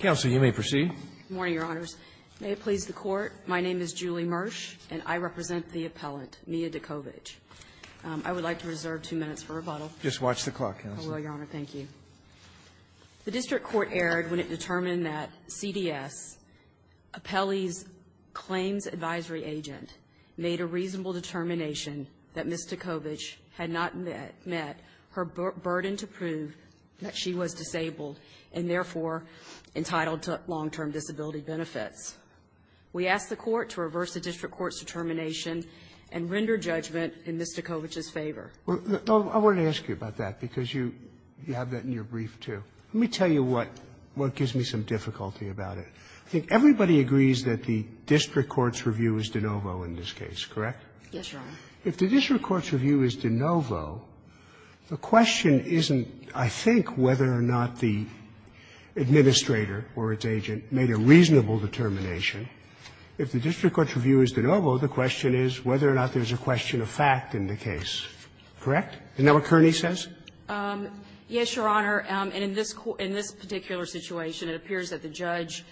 May it please the Court. My name is Julie Mersh, and I represent the appellant, Mia Decovich. I would like to reserve two minutes for rebuttal. Just watch the clock. I will, Your Honor. Thank you. The district court erred when it determined that CDS, Appelli's claims advisory agent, made a reasonable determination that Ms. Decovich had not met her burden to prove that she was disabled and, therefore, entitled to long-term disability benefits. We ask the Court to reverse the district court's determination and render judgment in Ms. Decovich's favor. I wanted to ask you about that because you have that in your brief, too. Let me tell you what gives me some difficulty about it. I think everybody agrees that the district court's review is de novo in this case, correct? Yes, Your Honor. If the district court's review is de novo, the question isn't, I think, whether or not the administrator or its agent made a reasonable determination. If the district court's review is de novo, the question is whether or not there's a question of fact in the case, correct? Isn't that what Kearney says? Yes, Your Honor. And in this particular situation, it appears that the judge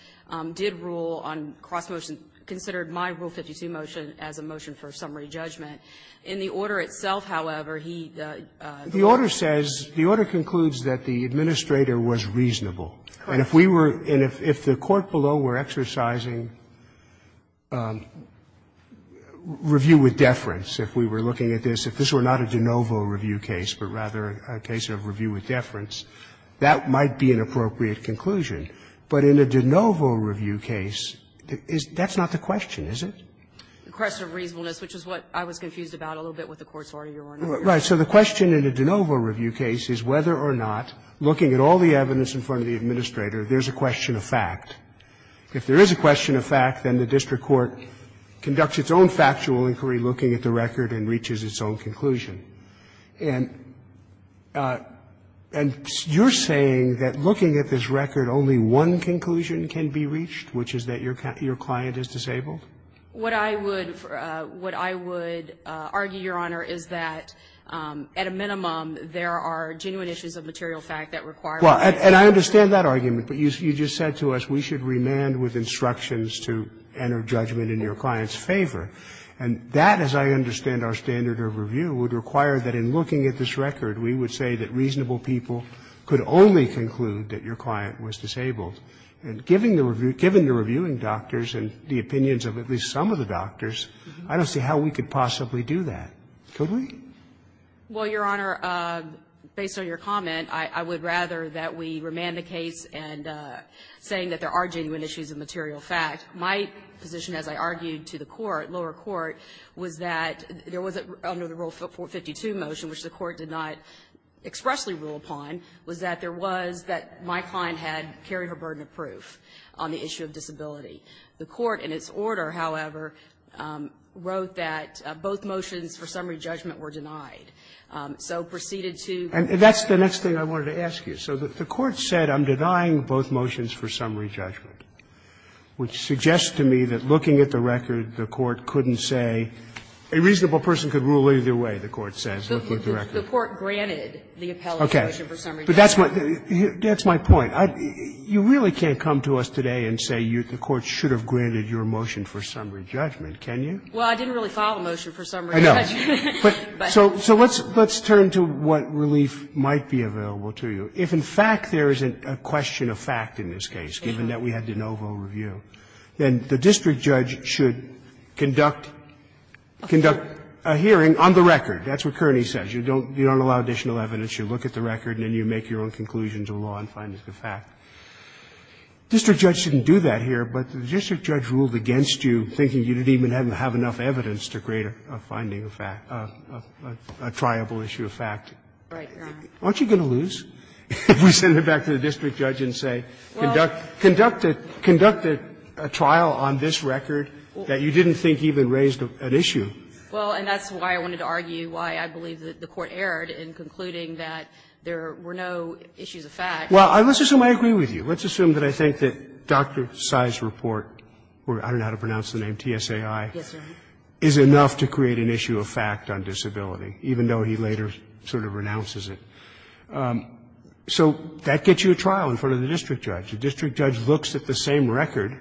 did rule on cross-motion and considered my Rule 52 motion as a motion for summary judgment. In the order itself, however, he doesn't rule on cross-motion. The order says the order concludes that the administrator was reasonable. And if we were and if the court below were exercising review with deference, if we were looking at this, if this were not a de novo review case, but rather a case of review with deference, that might be an appropriate conclusion. But in a de novo review case, that's not the question, is it? The question of reasonableness, which is what I was confused about a little bit with the Court's order, Your Honor. Right. So the question in a de novo review case is whether or not, looking at all the evidence in front of the administrator, there's a question of fact. If there is a question of fact, then the district court conducts its own factual inquiry looking at the record and reaches its own conclusion. And you're saying that looking at this record, only one conclusion can be reached, which is that your client is disabled? What I would argue, Your Honor, is that at a minimum, there are genuine issues of material fact that require that. Well, and I understand that argument. But you just said to us we should remand with instructions to enter judgment in your client's favor. And that, as I understand our standard of review, would require that in looking at this record, we would say that reasonable people could only conclude that your client was disabled. And given the reviewing doctors and the opinions of at least some of the doctors, I don't see how we could possibly do that. Could we? Well, Your Honor, based on your comment, I would rather that we remand the case and saying that there are genuine issues of material fact. My position, as I argued to the court, lower court, was that there was, under the Rule 52 motion, which the court did not expressly rule upon, was that there was that my client had carried her burden of proof on the issue of disability. The court, in its order, however, wrote that both motions for summary judgment were denied. So proceeded to the court said I'm denying both motions for summary judgment, which suggests to me that looking at the record, the court couldn't say a reasonable person could rule either way, the court says, looking at the record. The court granted the appellate motion for summary judgment. But that's my point. You really can't come to us today and say the court should have granted your motion for summary judgment, can you? Well, I didn't really file a motion for summary judgment. I know. But so let's turn to what relief might be available to you. If, in fact, there is a question of fact in this case, given that we had de novo review, then the district judge should conduct a hearing on the record. That's what Kearney says. You don't allow additional evidence. You look at the record and then you make your own conclusions of law and find it's a fact. District judge shouldn't do that here, but the district judge ruled against you, thinking you didn't even have enough evidence to create a finding of fact, a triable issue of fact. Aren't you going to lose? If we send it back to the district judge and say, conduct a trial on this record that you didn't think even raised an issue. Well, and that's why I wanted to argue why I believe the court erred in concluding that there were no issues of fact. Well, let's assume I agree with you. Let's assume that I think that Dr. Sai's report, I don't know how to pronounce the name, TSAI, is enough to create an issue of fact on disability, even though he later sort of renounces it. So that gets you a trial in front of the district judge. The district judge looks at the same record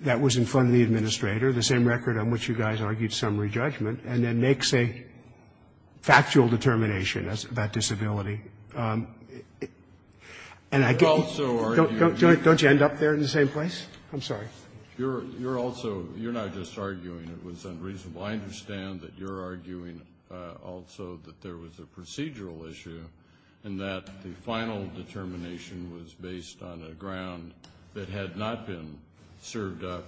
that was in front of the administrator, the same record on which you guys argued summary judgment, and then makes a factual determination about disability. And I can't also argue that you're not just arguing it was unreasonable. I understand that you're arguing also that there was a procedural issue and that the final determination was based on a ground that had not been served up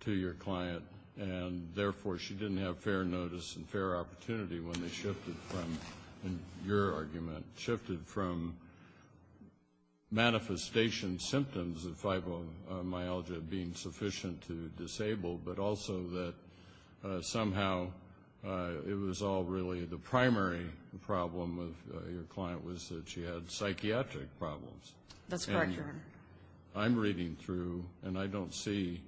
to your client, and therefore she didn't have fair notice and fair opportunity when they shifted from, in your argument, shifted from manifestation symptoms of fibromyalgia being sufficient to disabled, but also that somehow it was all really the primary problem of your client was that she had psychiatric problems. That's correct, Your Honor. I'm reading through, and I don't see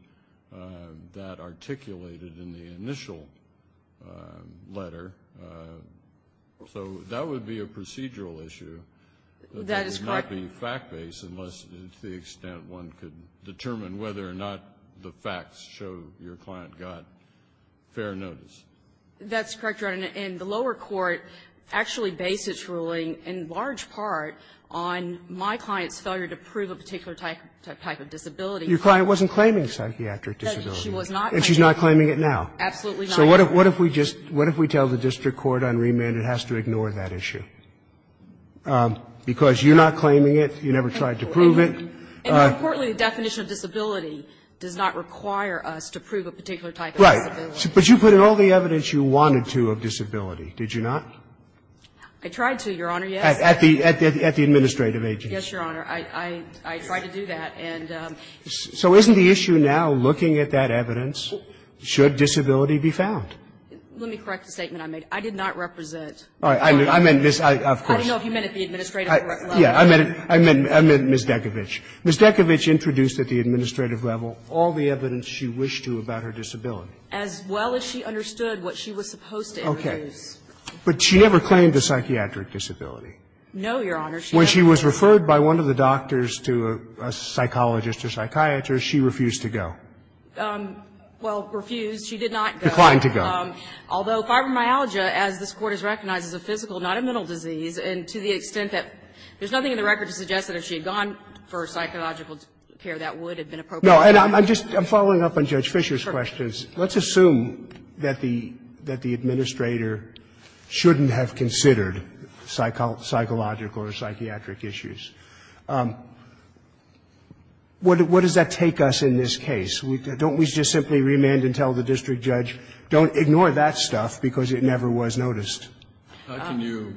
that articulated in the initial letter. So that would be a procedural issue. That is correct. It can't be fact-based unless to the extent one could determine whether or not the facts show your client got fair notice. That's correct, Your Honor. And the lower court actually based its ruling in large part on my client's failure to prove a particular type of disability. Your client wasn't claiming psychiatric disability. No, she was not. And she's not claiming it now. Absolutely not. So what if we just what if we tell the district court on remand it has to ignore that issue? Because you're not claiming it, you never tried to prove it. And more importantly, the definition of disability does not require us to prove a particular type of disability. Right. But you put in all the evidence you wanted to of disability, did you not? I tried to, Your Honor, yes. At the administrative agency. Yes, Your Honor. I tried to do that. So isn't the issue now looking at that evidence, should disability be found? Let me correct the statement I made. I did not represent. I meant Ms. Of course. I don't know if you meant at the administrative level. I meant Ms. Dekovich. Ms. Dekovich introduced at the administrative level all the evidence she wished to about her disability. As well as she understood what she was supposed to introduce. Okay. But she never claimed a psychiatric disability. No, Your Honor. When she was referred by one of the doctors to a psychologist or psychiatrist, she refused to go. Well, refused. She did not go. Declined to go. Although fibromyalgia, as this Court has recognized, is a physical, not a mental disease, and to the extent that there's nothing in the record to suggest that if she had gone for psychological care, that would have been appropriate. No. And I'm just following up on Judge Fischer's questions. Let's assume that the administrator shouldn't have considered psychological or psychiatric issues. What does that take us in this case? Don't we just simply remand and tell the district judge? Don't ignore that stuff because it never was noticed. How can you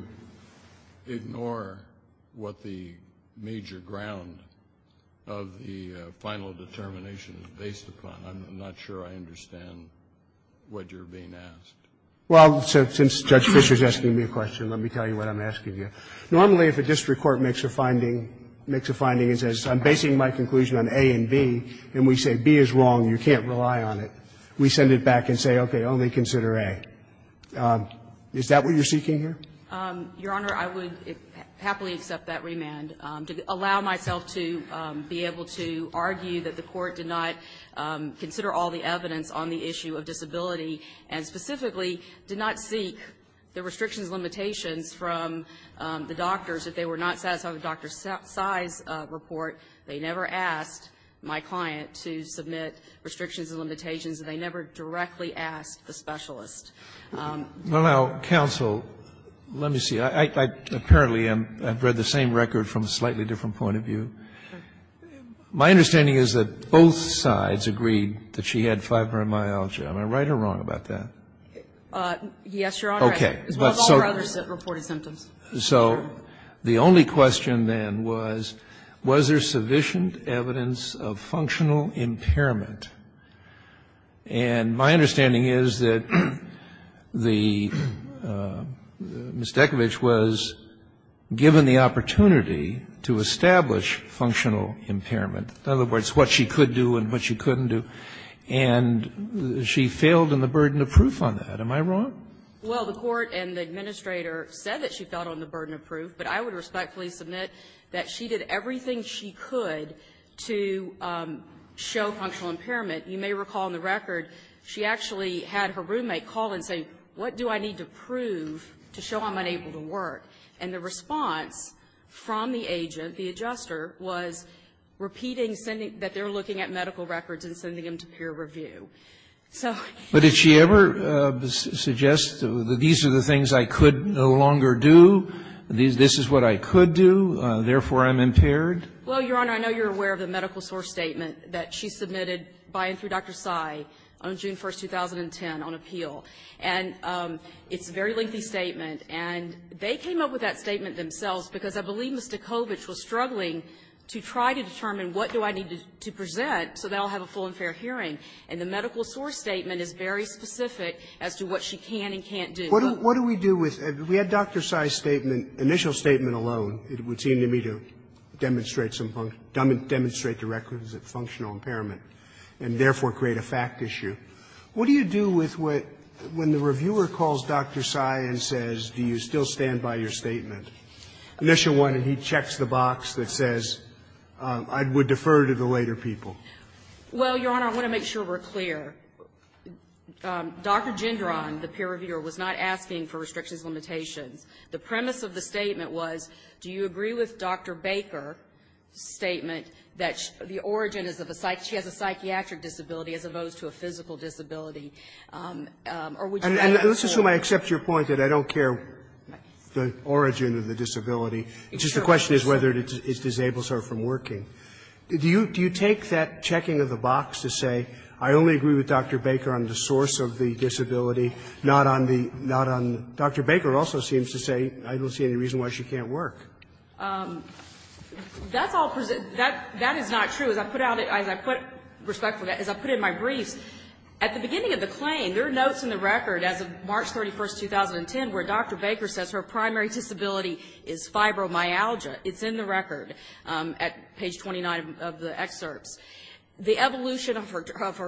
ignore what the major ground of the final determination is based upon? I'm not sure I understand what you're being asked. Well, since Judge Fischer is asking me a question, let me tell you what I'm asking you. Normally, if a district court makes a finding, makes a finding and says, I'm basing my conclusion on A and B, and we say B is wrong, you can't rely on it, we send it back and say, okay, only consider A. Is that what you're seeking here? Your Honor, I would happily accept that remand. To allow myself to be able to argue that the Court did not consider all the evidence on the issue of disability and specifically did not seek the restrictions and limitations from the doctors if they were not satisfied with Dr. Tsai's report, they never asked my client to submit restrictions and limitations, and they never directly asked the specialist. Well, now, counsel, let me see. I apparently am ‑‑ I've read the same record from a slightly different point of view. My understanding is that both sides agreed that she had fibromyalgia. Am I right or wrong about that? Yes, Your Honor. Okay. As well as all her other reported symptoms. So the only question then was, was there sufficient evidence of functional impairment? And my understanding is that the ‑‑ Ms. Dekovich was given the opportunity to establish functional impairment, in other words, what she could do and what she couldn't do, and she failed in the burden of proof on that. Am I wrong? Well, the court and the administrator said that she fell on the burden of proof, but I would respectfully submit that she did everything she could to show functional impairment. You may recall in the record, she actually had her roommate call and say, what do I need to prove to show I'm unable to work? And the response from the agent, the adjuster, was repeating sending ‑‑ that they were looking at medical records and sending them to peer review. So ‑‑ But did she ever suggest that these are the things I could no longer do, this is what I could do, therefore I'm impaired? Well, Your Honor, I know you're aware of the medical source statement that she submitted by and through Dr. Tsai on June 1, 2010, on appeal. And it's a very lengthy statement. And they came up with that statement themselves because I believe Ms. Dekovich was struggling to try to determine what do I need to present so they'll have a full and fair hearing. And the medical source statement is very specific as to what she can and can't do. What do we do with ‑‑ we had Dr. Tsai's statement, initial statement alone. It would seem to me to demonstrate some ‑‑ demonstrate the records of functional impairment and therefore create a fact issue. What do you do with what, when the reviewer calls Dr. Tsai and says, do you still stand by your statement, initial one, and he checks the box that says, I would defer to the later people? Well, Your Honor, I want to make sure we're clear. Dr. Gendron, the peer reviewer, was not asking for restrictions and limitations. The premise of the statement was, do you agree with Dr. Baker's statement that the origin is of a ‑‑ she has a psychiatric disability as opposed to a physical disability? Or would you rather ‑‑ And let's assume I accept your point that I don't care the origin of the disability. It's just the question is whether it disables her from working. Do you take that checking of the box to say, I only agree with Dr. Baker on the source of the disability, not on the ‑‑ not on ‑‑ Dr. Baker also seems to say, I don't see any reason why she can't work. That's all ‑‑ that is not true. As I put out ‑‑ as I put, respectfully, as I put in my briefs, at the beginning of the claim, there are notes in the record as of March 31, 2010, where Dr. Baker says her primary disability is fibromyalgia. It's in the record at page 29 of the excerpts. The evolution of her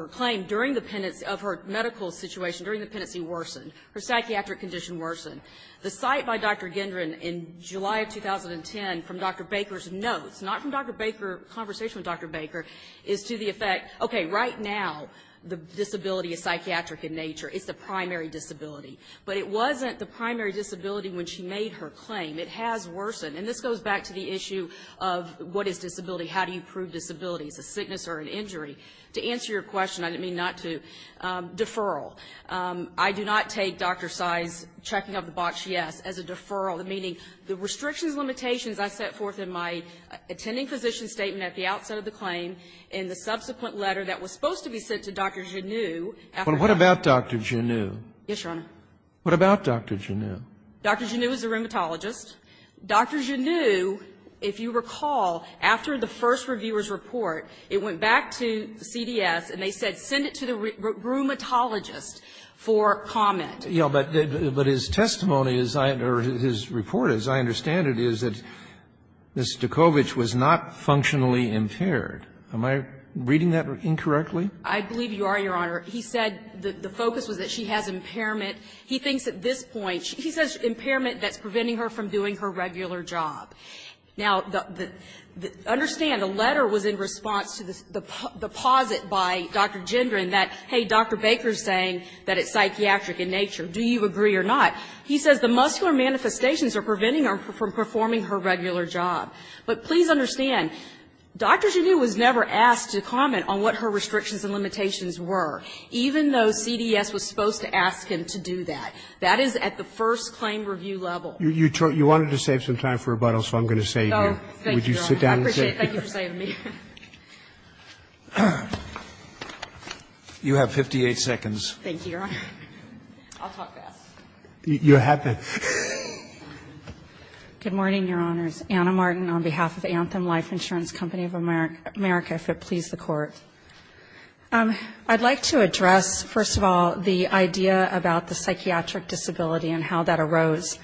claim during the pendency of her medical situation, during the pendency, worsened. Her psychiatric condition worsened. The cite by Dr. Gendron in July of 2010 from Dr. Baker's notes, not from Dr. Baker's conversation with Dr. Baker, is to the effect, okay, right now, the disability is psychiatric in nature. It's the primary disability. But it wasn't the primary disability when she made her claim. It has worsened. And this goes back to the issue of what is disability? How do you prove disability? Is it a sickness or an injury? To answer your question, I didn't mean not to, deferral. I do not take Dr. Sy's checking of the box, yes, as a deferral, meaning the restrictions, limitations I set forth in my attending physician statement at the outset of the claim, in the subsequent letter that was supposed to be sent to Dr. Genoux after ‑‑ But what about Dr. Genoux? Yes, Your Honor. What about Dr. Genoux? Dr. Genoux is a rheumatologist. Dr. Genoux, if you recall, after the first reviewer's report, it went back to CDS and they said send it to the rheumatologist for comment. Yes, but his testimony is, or his report, as I understand it, is that Ms. Stokovich was not functionally impaired. Am I reading that incorrectly? I believe you are, Your Honor. He said the focus was that she has impairment. He thinks at this point ‑‑ he says impairment that's preventing her from doing her regular job. Now, understand, the letter was in response to the posit by Dr. Gendron that, hey, Dr. Baker is saying that it's psychiatric in nature. Do you agree or not? He says the muscular manifestations are preventing her from performing her regular job. But please understand, Dr. Genoux was never asked to comment on what her restrictions and limitations were. Even though CDS was supposed to ask him to do that. That is at the first claim review level. You wanted to save some time for rebuttal, so I'm going to save you. Would you sit down and say it? Thank you for saving me. You have 58 seconds. Thank you, Your Honor. I'll talk fast. You have to. Good morning, Your Honors. Anna Martin on behalf of Anthem Life Insurance Company of America, if it please the Court. I'd like to address, first of all, the idea about the psychiatric disability and how that arose.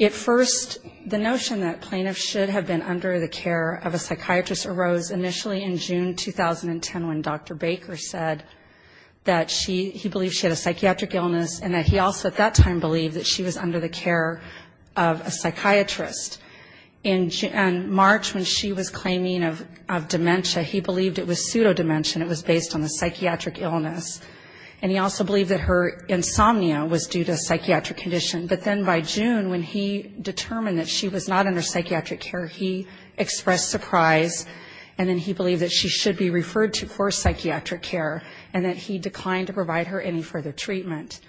At first, the notion that plaintiffs should have been under the care of a psychiatrist arose initially in June 2010 when Dr. Baker said that she, he believed she had a psychiatric illness and that he also at that time believed that she was under the care of a psychiatrist. In March when she was claiming of dementia, he believed it was pseudodementia. It was based on a psychiatric illness. And he also believed that her insomnia was due to a psychiatric condition. But then by June when he determined that she was not under psychiatric care, he expressed surprise. And then he believed that she should be referred to for psychiatric care and that he declined to provide her any further treatment.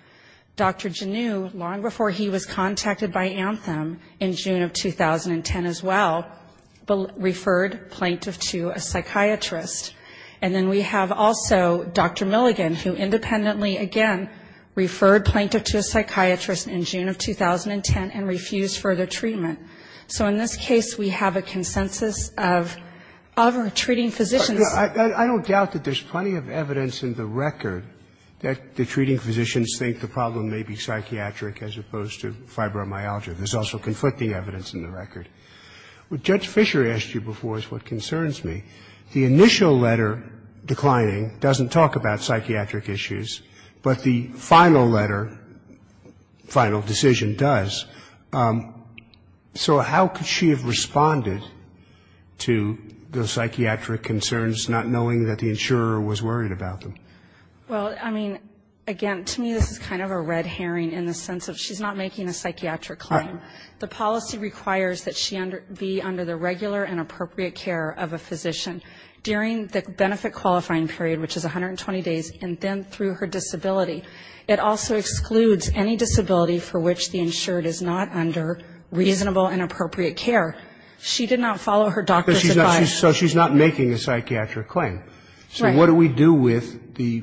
Dr. Genoux, long before he was contacted by Anthem in June of 2010 as well, referred plaintiff to a psychiatrist. And then we have also Dr. Milligan who independently again referred plaintiff to a psychiatrist in June of 2010 and refused further treatment. So in this case, we have a consensus of treating physicians. I don't doubt that there's plenty of evidence in the record that the treating physicians think the problem may be psychiatric as opposed to fibromyalgia. There's also conflicting evidence in the record. What Judge Fisher asked you before is what concerns me. The initial letter declining doesn't talk about psychiatric issues, but the final letter, final decision does. So how could she have responded to the psychiatric concerns not knowing that the insurer was worried about them? Well, I mean, again, to me this is kind of a red herring in the sense of she's not making a psychiatric claim. The policy requires that she be under the regular and appropriate care of a physician during the benefit qualifying period, which is 120 days, and then through her disability. It also excludes any disability for which the insured is not under reasonable and appropriate care. She did not follow her doctor's advice. So she's not making a psychiatric claim. So what do we do with the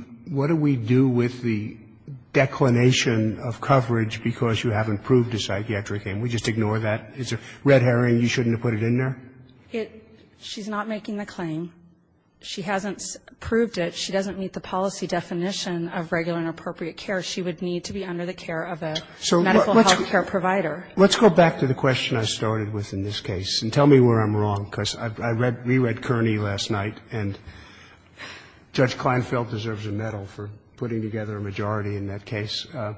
declination of coverage because you haven't proved a psychiatric claim? We just ignore that? It's a red herring, you shouldn't have put it in there? She's not making the claim. She hasn't proved it. She doesn't meet the policy definition of regular and appropriate care. She would need to be under the care of a medical health care provider. Let's go back to the question I started with in this case and tell me where I'm wrong because I reread Kearney last night and Judge Kleinfeld deserves a medal for putting together a majority in that case. I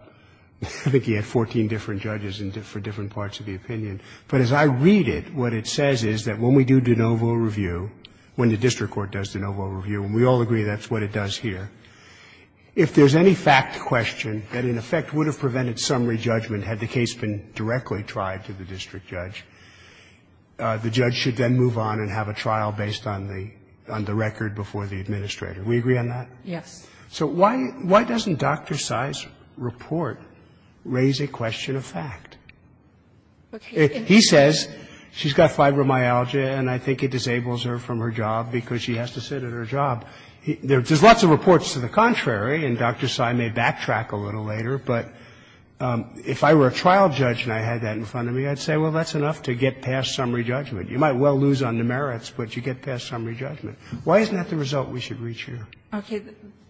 think he had 14 different judges for different parts of the opinion. But as I read it, what it says is that when we do de novo review, when the district court does de novo review, and we all agree that's what it does here, if there's any fact question that in effect would have prevented summary judgment had the case been directly tried to the district judge, the judge should then move on and have a trial based on the record before the administrator. Do we agree on that? Yes. So why doesn't Dr. Sy's report raise a question of fact? He says she's got fibromyalgia and I think it disables her from her job because she has to sit at her job. There's lots of reports to the contrary, and Dr. Sy may backtrack a little later, but if I were a trial judge and I had that in front of me, I'd say, well, that's enough to get past summary judgment. You might well lose on the merits, but you get past summary judgment. Why isn't that the result we should reach here? Okay.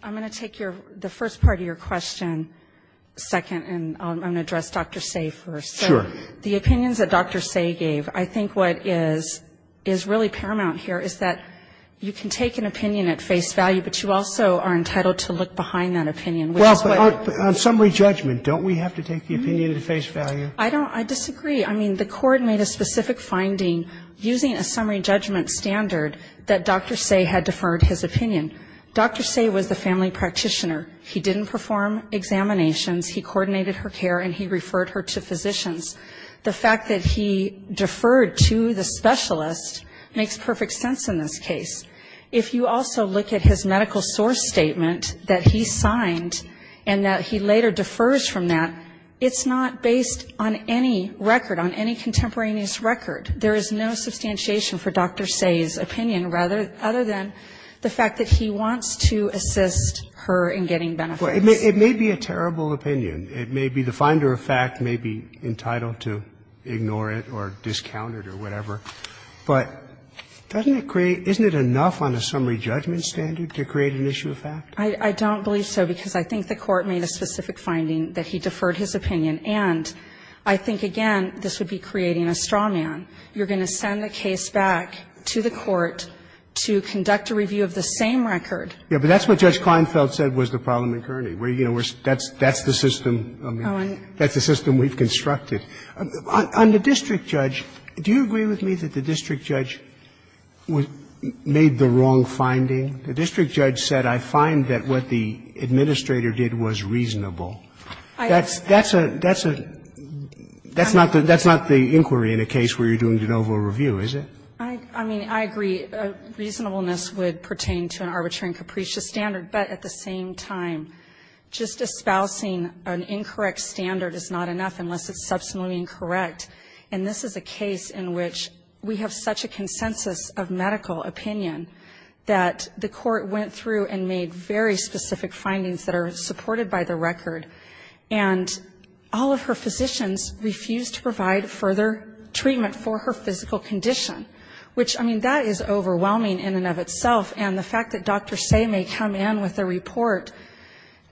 I'm going to take the first part of your question second, and I'm going to address Dr. Sy first. Sure. The opinions that Dr. Sy gave, I think what is really paramount here is that you can take an opinion at face value, but you also are entitled to look behind that opinion. Well, on summary judgment, don't we have to take the opinion at face value? I don't. I disagree. I mean, the court made a specific finding using a summary judgment standard that Dr. Sy had deferred his opinion. Dr. Sy was the family practitioner. He didn't perform examinations. He coordinated her care, and he referred her to physicians. The fact that he deferred to the specialist makes perfect sense in this case. If you also look at his medical source statement that he signed and that he later defers from that, it's not based on any record, on any contemporaneous record. There is no substantiation for Dr. Sy's opinion. Other than the fact that he wants to assist her in getting benefits. Well, it may be a terrible opinion. It may be the finder of fact may be entitled to ignore it or discount it or whatever. But doesn't it create — isn't it enough on a summary judgment standard to create an issue of fact? I don't believe so, because I think the court made a specific finding that he deferred his opinion. And I think, again, this would be creating a straw man. You're going to send a case back to the court to conduct a review of the same record. Yeah, but that's what Judge Kleinfeld said was the problem in Kearney. That's the system we've constructed. On the district judge, do you agree with me that the district judge made the wrong finding? The district judge said, I find that what the administrator did was reasonable. I mean, I agree. Reasonableness would pertain to an arbitrary and capricious standard. But at the same time, just espousing an incorrect standard is not enough unless it's substantially incorrect. And this is a case in which we have such a consensus of medical opinion that the court went through and made very specific findings that are supported by the record. And all of her physicians refused to provide further treatment for her. For her physical condition, which, I mean, that is overwhelming in and of itself. And the fact that Dr. Say may come in with a report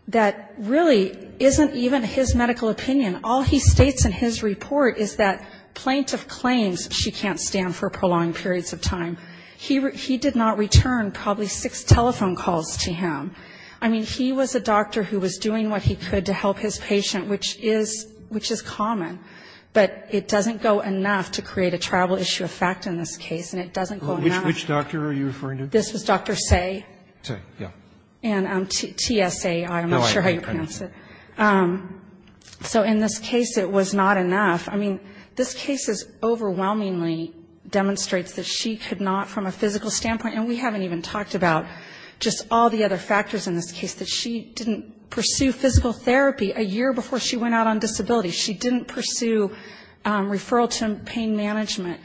that really isn't even his medical opinion. All he states in his report is that plaintiff claims she can't stand for prolonged periods of time. He did not return probably six telephone calls to him. I mean, he was a doctor who was doing what he could to help his patient, which is common. But it doesn't go enough to create a tribal issue of fact in this case, and it doesn't go enough. Which doctor are you referring to? This was Dr. Say. Say, yeah. And TSAI, I'm not sure how you pronounce it. No, I am not. So in this case, it was not enough. I mean, this case overwhelmingly demonstrates that she could not, from a physical standpoint, and we haven't even talked about just all the other factors in this case, that she didn't pursue physical therapy a year before she went out on disability. She didn't pursue referral to pain management.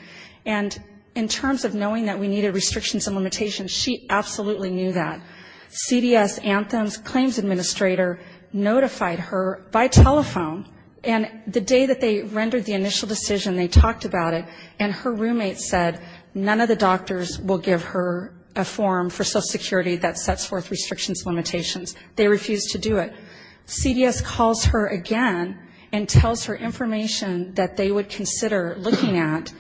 And in terms of knowing that we needed restrictions and limitations, she absolutely knew that. CDS Anthem's claims administrator notified her by telephone. And the day that they rendered the initial decision, they talked about it, and her roommate said, none of the doctors will give her a form for Social Security that sets forth restrictions and limitations. They refused to do it. CDS calls her again and tells her information that they would consider looking at.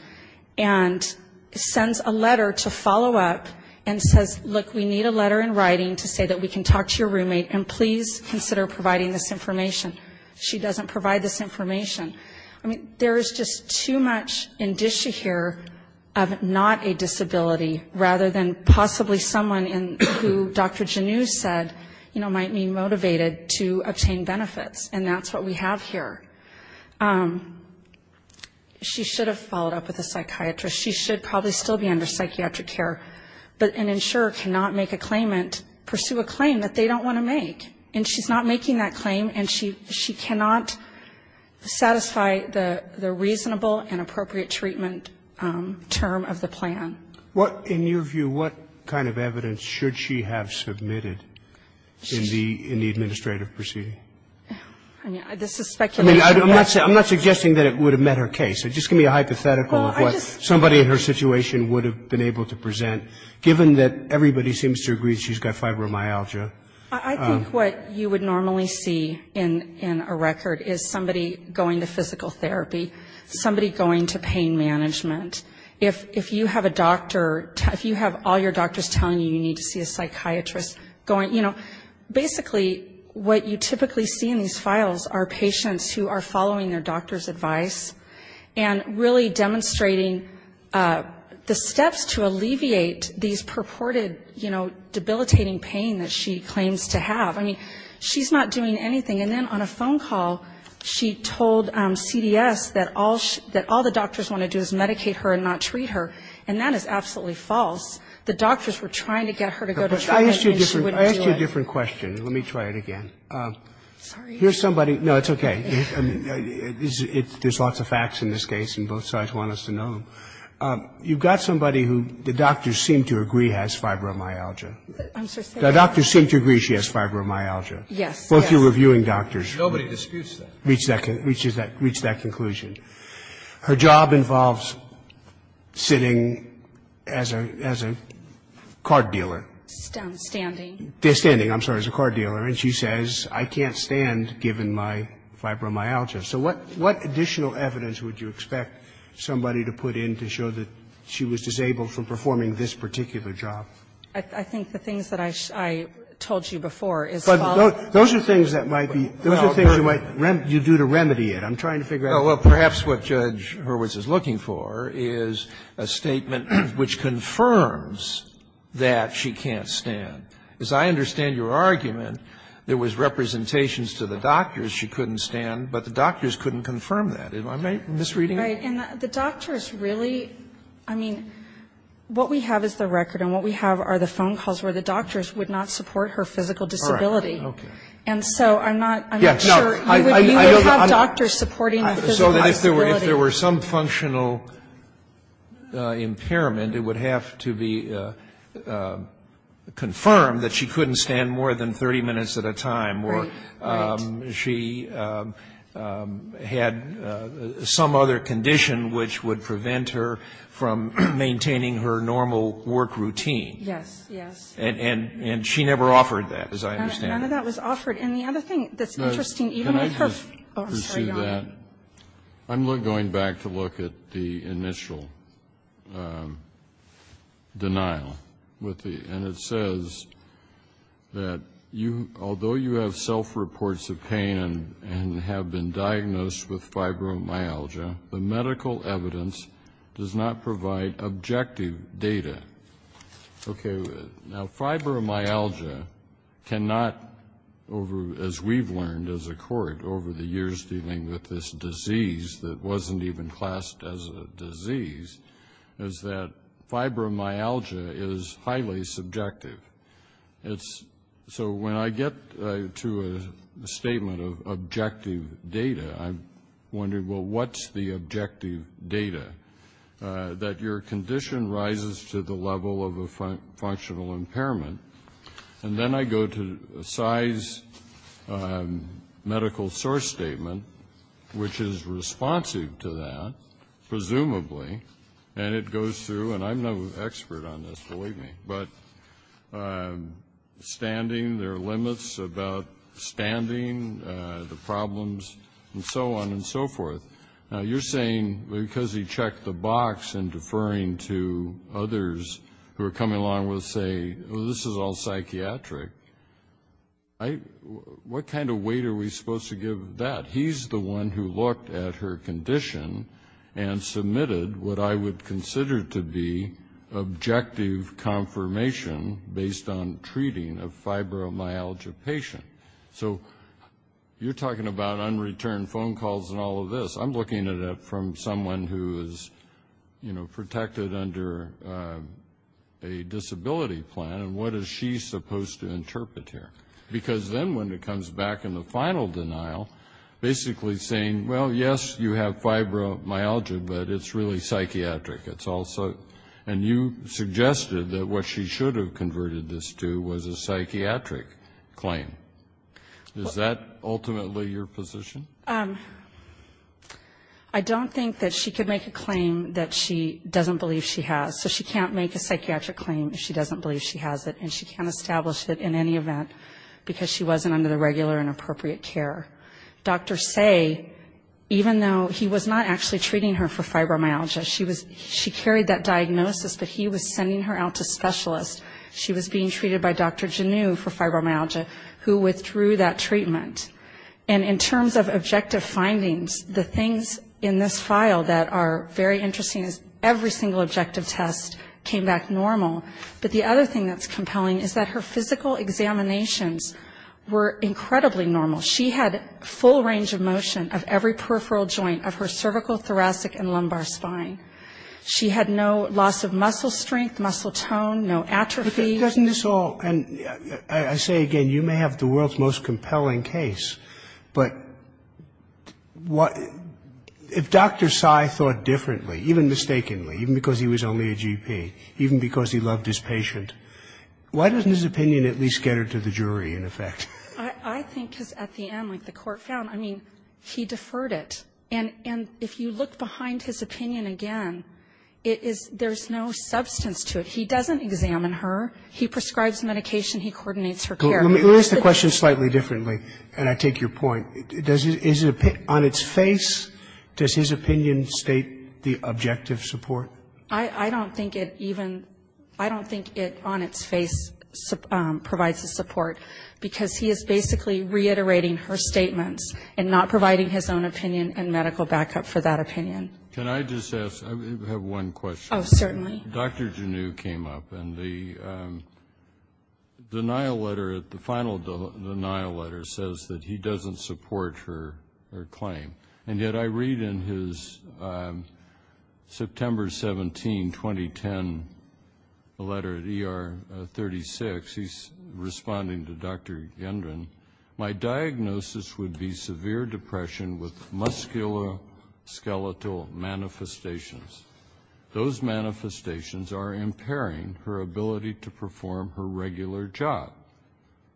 And sends a letter to follow up and says, look, we need a letter in writing to say that we can talk to your roommate, and please consider providing this information. She doesn't provide this information. I mean, there is just too much indicia here of not a disability, rather than possibly someone in who Dr. Genoux said, you know, might be motivated to obtain benefits. And that's what we have here. She should have followed up with a psychiatrist. She should probably still be under psychiatric care. But an insurer cannot make a claimant pursue a claim that they don't want to make. And she's not making that claim, and she cannot satisfy the reasonable and appropriate treatment term of the plan. What, in your view, what kind of evidence should she have submitted in the administrative proceeding? I mean, this is speculation. I'm not suggesting that it would have met her case. Just give me a hypothetical of what somebody in her situation would have been able to present, given that everybody seems to agree she's got fibromyalgia. I think what you would normally see in a record is somebody going to physical therapy, somebody going to pain management. If you have a doctor, if you have all your doctors telling you you need to see a doctor, what you typically see in these files are patients who are following their doctor's advice and really demonstrating the steps to alleviate these purported, you know, debilitating pain that she claims to have. I mean, she's not doing anything. And then on a phone call, she told CDS that all the doctors want to do is medicate her and not treat her. And that is absolutely false. The doctors were trying to get her to go to treatment, and she wouldn't do it. Now, that's a different question. Let me try it again. Here's somebody – no, it's okay. There's lots of facts in this case, and both sides want us to know. You've got somebody who the doctors seem to agree has fibromyalgia. The doctors seem to agree she has fibromyalgia. Both you're reviewing doctors. Nobody disputes that. Reaches that conclusion. Her job involves sitting as a card dealer. Standing. Standing. I'm sorry, as a card dealer. And she says, I can't stand given my fibromyalgia. So what additional evidence would you expect somebody to put in to show that she was disabled from performing this particular job? I think the things that I told you before is the following. But those are things that might be – those are things you might do to remedy it. I'm trying to figure out. Well, perhaps what Judge Hurwitz is looking for is a statement which confirms that she can't stand. As I understand your argument, there was representations to the doctors she couldn't stand, but the doctors couldn't confirm that. Am I misreading it? Right. And the doctors really – I mean, what we have is the record, and what we have are the phone calls where the doctors would not support her physical disability. All right. Okay. And so I'm not – I'm not sure you would have doctors supporting her physical disability. If there were some functional impairment, it would have to be confirmed that she couldn't stand more than 30 minutes at a time or she had some other condition which would prevent her from maintaining her normal work routine. Yes. Yes. And she never offered that, as I understand it. None of that was offered. And the other thing that's interesting, even with her – Can I just pursue that? I'm sorry, Your Honor. I'm going back to look at the initial denial with the – and it says that, although you have self-reports of pain and have been diagnosed with fibromyalgia, the medical evidence does not provide objective data. Okay. Now, fibromyalgia cannot, as we've learned as a court over the years dealing with this disease that wasn't even classed as a disease, is that fibromyalgia is highly subjective. It's – so when I get to a statement of objective data, I'm wondering, well, what's the objective data? That your condition rises to the level of a functional impairment. And then I go to Cy's medical source statement, which is responsive to that, presumably, and it goes through – and I'm no expert on this, believe me – but standing, there are limits about standing, the problems, and so on and so forth. Now, you're saying because he checked the box and deferring to others who are coming along with, say, oh, this is all psychiatric, what kind of weight are we supposed to give that? He's the one who looked at her condition and submitted what I would consider to be objective confirmation based on treating a fibromyalgia patient. So you're talking about unreturned phone calls and all of this. I'm looking at it from someone who is protected under a disability plan, and what is she supposed to interpret here? Because then when it comes back in the final denial, basically saying, well, yes, you have fibromyalgia, but it's really psychiatric. It's also – and you suggested that what she should have converted this to was a psychiatric claim. Is that ultimately your position? I don't think that she could make a claim that she doesn't believe she has. So she can't make a psychiatric claim if she doesn't believe she has it, and she can't establish it in any event because she wasn't under the regular and appropriate care. Dr. Say, even though he was not actually treating her for fibromyalgia, she carried that diagnosis, but he was sending her out to specialists. She was being treated by Dr. Genue for fibromyalgia, who withdrew that treatment. And in terms of objective findings, the things in this file that are very interesting is every single objective test came back normal. But the other thing that's compelling is that her physical examinations were incredibly normal. She had full range of motion of every peripheral joint of her cervical, thoracic, and lumbar spine. She had no loss of muscle strength, muscle tone, no atrophy. But doesn't this all – and I say again, you may have the world's most compelling case, but if Dr. Say thought differently, even mistakenly, even because he was only a GP, even because he loved his patient, why doesn't his opinion at least get her to the jury, in effect? I think because at the end, like the Court found, I mean, he deferred it. And if you look behind his opinion again, it is – there's no substance to it. He doesn't examine her. He prescribes medication. He coordinates her care. Let me ask the question slightly differently, and I take your point. Does his opinion – on its face, does his opinion state the objective support? I don't think it even – I don't think it on its face provides a support, because he is basically reiterating her statements and not providing his own opinion and medical backup for that opinion. Can I just ask – I have one question. Oh, certainly. Dr. Genoux came up, and the denial letter, the final denial letter says that he doesn't support her claim. And yet I read in his September 17, 2010 letter at ER 36, he's responding to Dr. Gendron, my diagnosis would be severe depression with musculoskeletal manifestations. Those manifestations are impairing her ability to perform her regular job.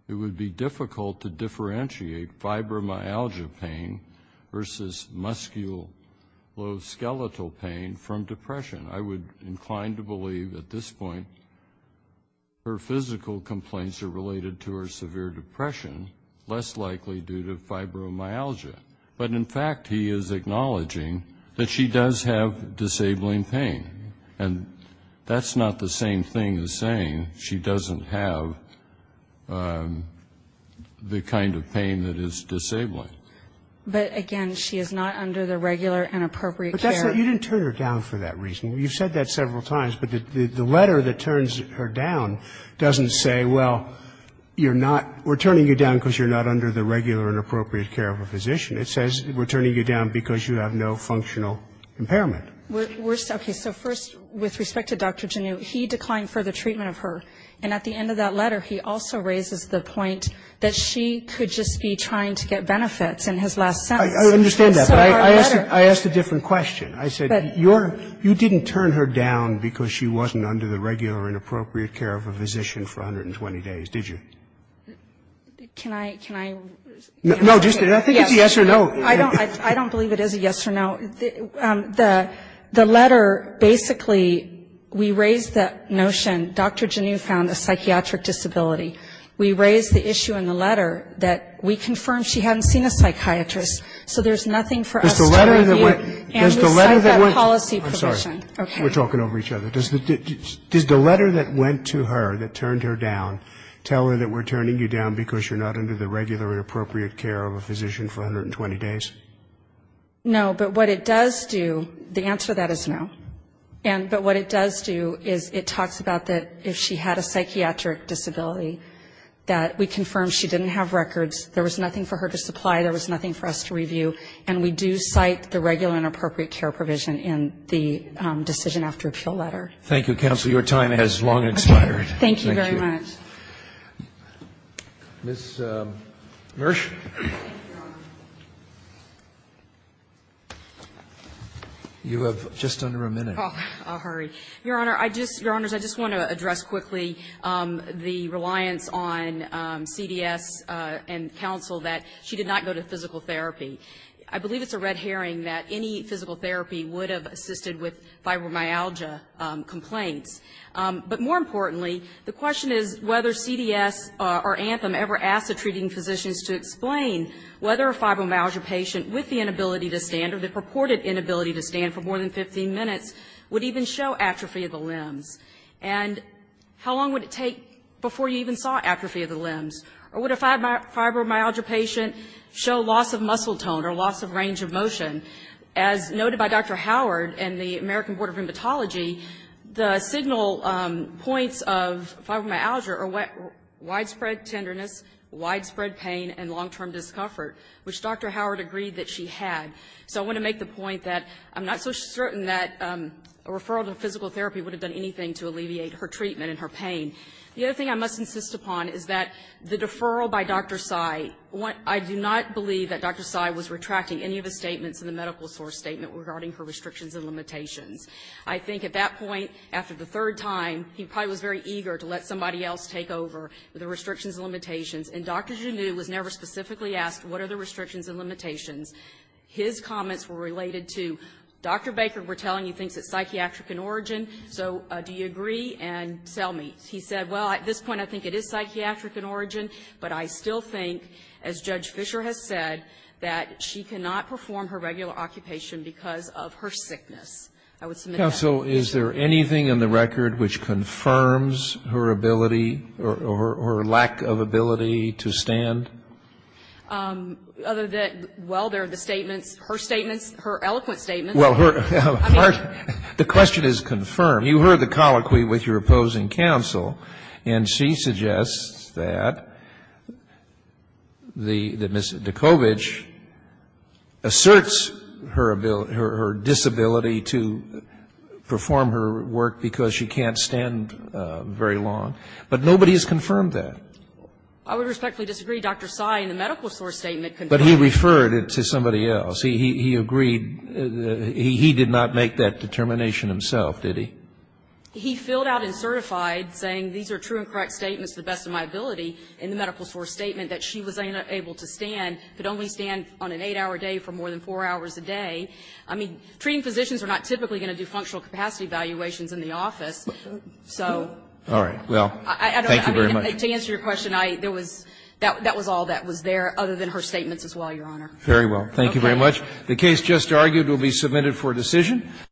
It would be difficult to differentiate fibromyalgia pain versus musculoskeletal pain from depression. I would incline to believe at this point her physical complaints are related to her severe depression, less likely due to fibromyalgia. But in fact, he is acknowledging that she does have disabling pain, and that's not the same thing as saying she doesn't have the kind of pain that is disabling. But, again, she is not under the regular and appropriate care. But that's not – you didn't turn her down for that reason. You've said that several times. But the letter that turns her down doesn't say, well, you're not – we're turning you down because you're not under the regular and appropriate care of a physician. It says we're turning you down because you have no functional impairment. We're – okay. So first, with respect to Dr. Genoux, he declined further treatment of her. And at the end of that letter, he also raises the point that she could just be trying to get benefits in his last sentence. I understand that. But I asked a different question. I said you're – you didn't turn her down because she wasn't under the regular and appropriate care of a physician for 120 days, did you? Can I – can I – No, just – I think it's a yes or no. I don't believe it is a yes or no. The letter – basically, we raised that notion. Dr. Genoux found a psychiatric disability. We raised the issue in the letter that we confirmed she hadn't seen a psychiatrist. So there's nothing for us to review. Does the letter that went – And the psychiatric policy provision. I'm sorry. Okay. We're talking over each other. Does the letter that went to her, that turned her down, tell her that we're turning you down because you're not under the regular and appropriate care of a physician for 120 days? No. But what it does do – the answer to that is no. And – but what it does do is it talks about that if she had a psychiatric disability that we confirmed she didn't have records. There was nothing for her to supply. There was nothing for us to review. And we do cite the regular and appropriate care provision in the decision after appeal letter. Thank you, counsel. Your time has long expired. Thank you very much. Thank you. Ms. Mersh. Thank you, Your Honor. You have just under a minute. I'll hurry. Your Honor, I just – Your Honors, I just want to address quickly the reliance on CDS and counsel that she did not go to physical therapy. I believe it's a red herring that any physical therapy would have assisted with fibromyalgia complaints. But more importantly, the question is whether CDS or Anthem ever asked the treating physicians to explain whether a fibromyalgia patient with the inability to stand or the purported inability to stand for more than 15 minutes would even show atrophy of the limbs. And how long would it take before you even saw atrophy of the limbs? Or would a fibromyalgia patient show loss of muscle tone or loss of range of motion? As noted by Dr. Howard and the American Board of Rheumatology, the signal points of fibromyalgia are widespread tenderness, widespread pain, and long-term discomfort, which Dr. Howard agreed that she had. So I want to make the point that I'm not so certain that a referral to physical therapy would have done anything to alleviate her treatment and her pain. The other thing I must insist upon is that the deferral by Dr. Tsai, I do not believe that Dr. Tsai was retracting any of his statements in the medical source statement regarding her restrictions and limitations. I think at that point, after the third time, he probably was very eager to let somebody else take over the restrictions and limitations. And Dr. Genoux was never specifically asked, what are the restrictions and limitations? His comments were related to, Dr. Baker, we're telling you, thinks it's psychiatric in origin. So do you agree? And tell me. He said, well, at this point, I think it is psychiatric in origin, but I still think, as Judge Fischer has said, that she cannot perform her regular occupation because of her sickness. I would submit that. Counsel, is there anything in the record which confirms her ability or her lack of ability to stand? Other than, well, there are the statements, her statements, her eloquent statements. Well, her. The question is confirmed. You heard the colloquy with your opposing counsel, and she suggests that the, that Ms. Dikovich asserts her ability, her disability to perform her work because she can't stand very long. But nobody has confirmed that. I would respectfully disagree. Dr. Tsai in the medical source statement confirmed it. But he referred it to somebody else. He agreed. He did not make that determination himself, did he? He filled out and certified, saying these are true and correct statements to the best of my ability, in the medical source statement that she was unable to stand, could only stand on an 8-hour day for more than 4 hours a day. I mean, treating physicians are not typically going to do functional capacity evaluations in the office, so. All right. Well, thank you very much. To answer your question, I, there was, that was all that was there, other than her statements as well, Your Honor. Very well. Thank you very much. The case just argued will be submitted for decision.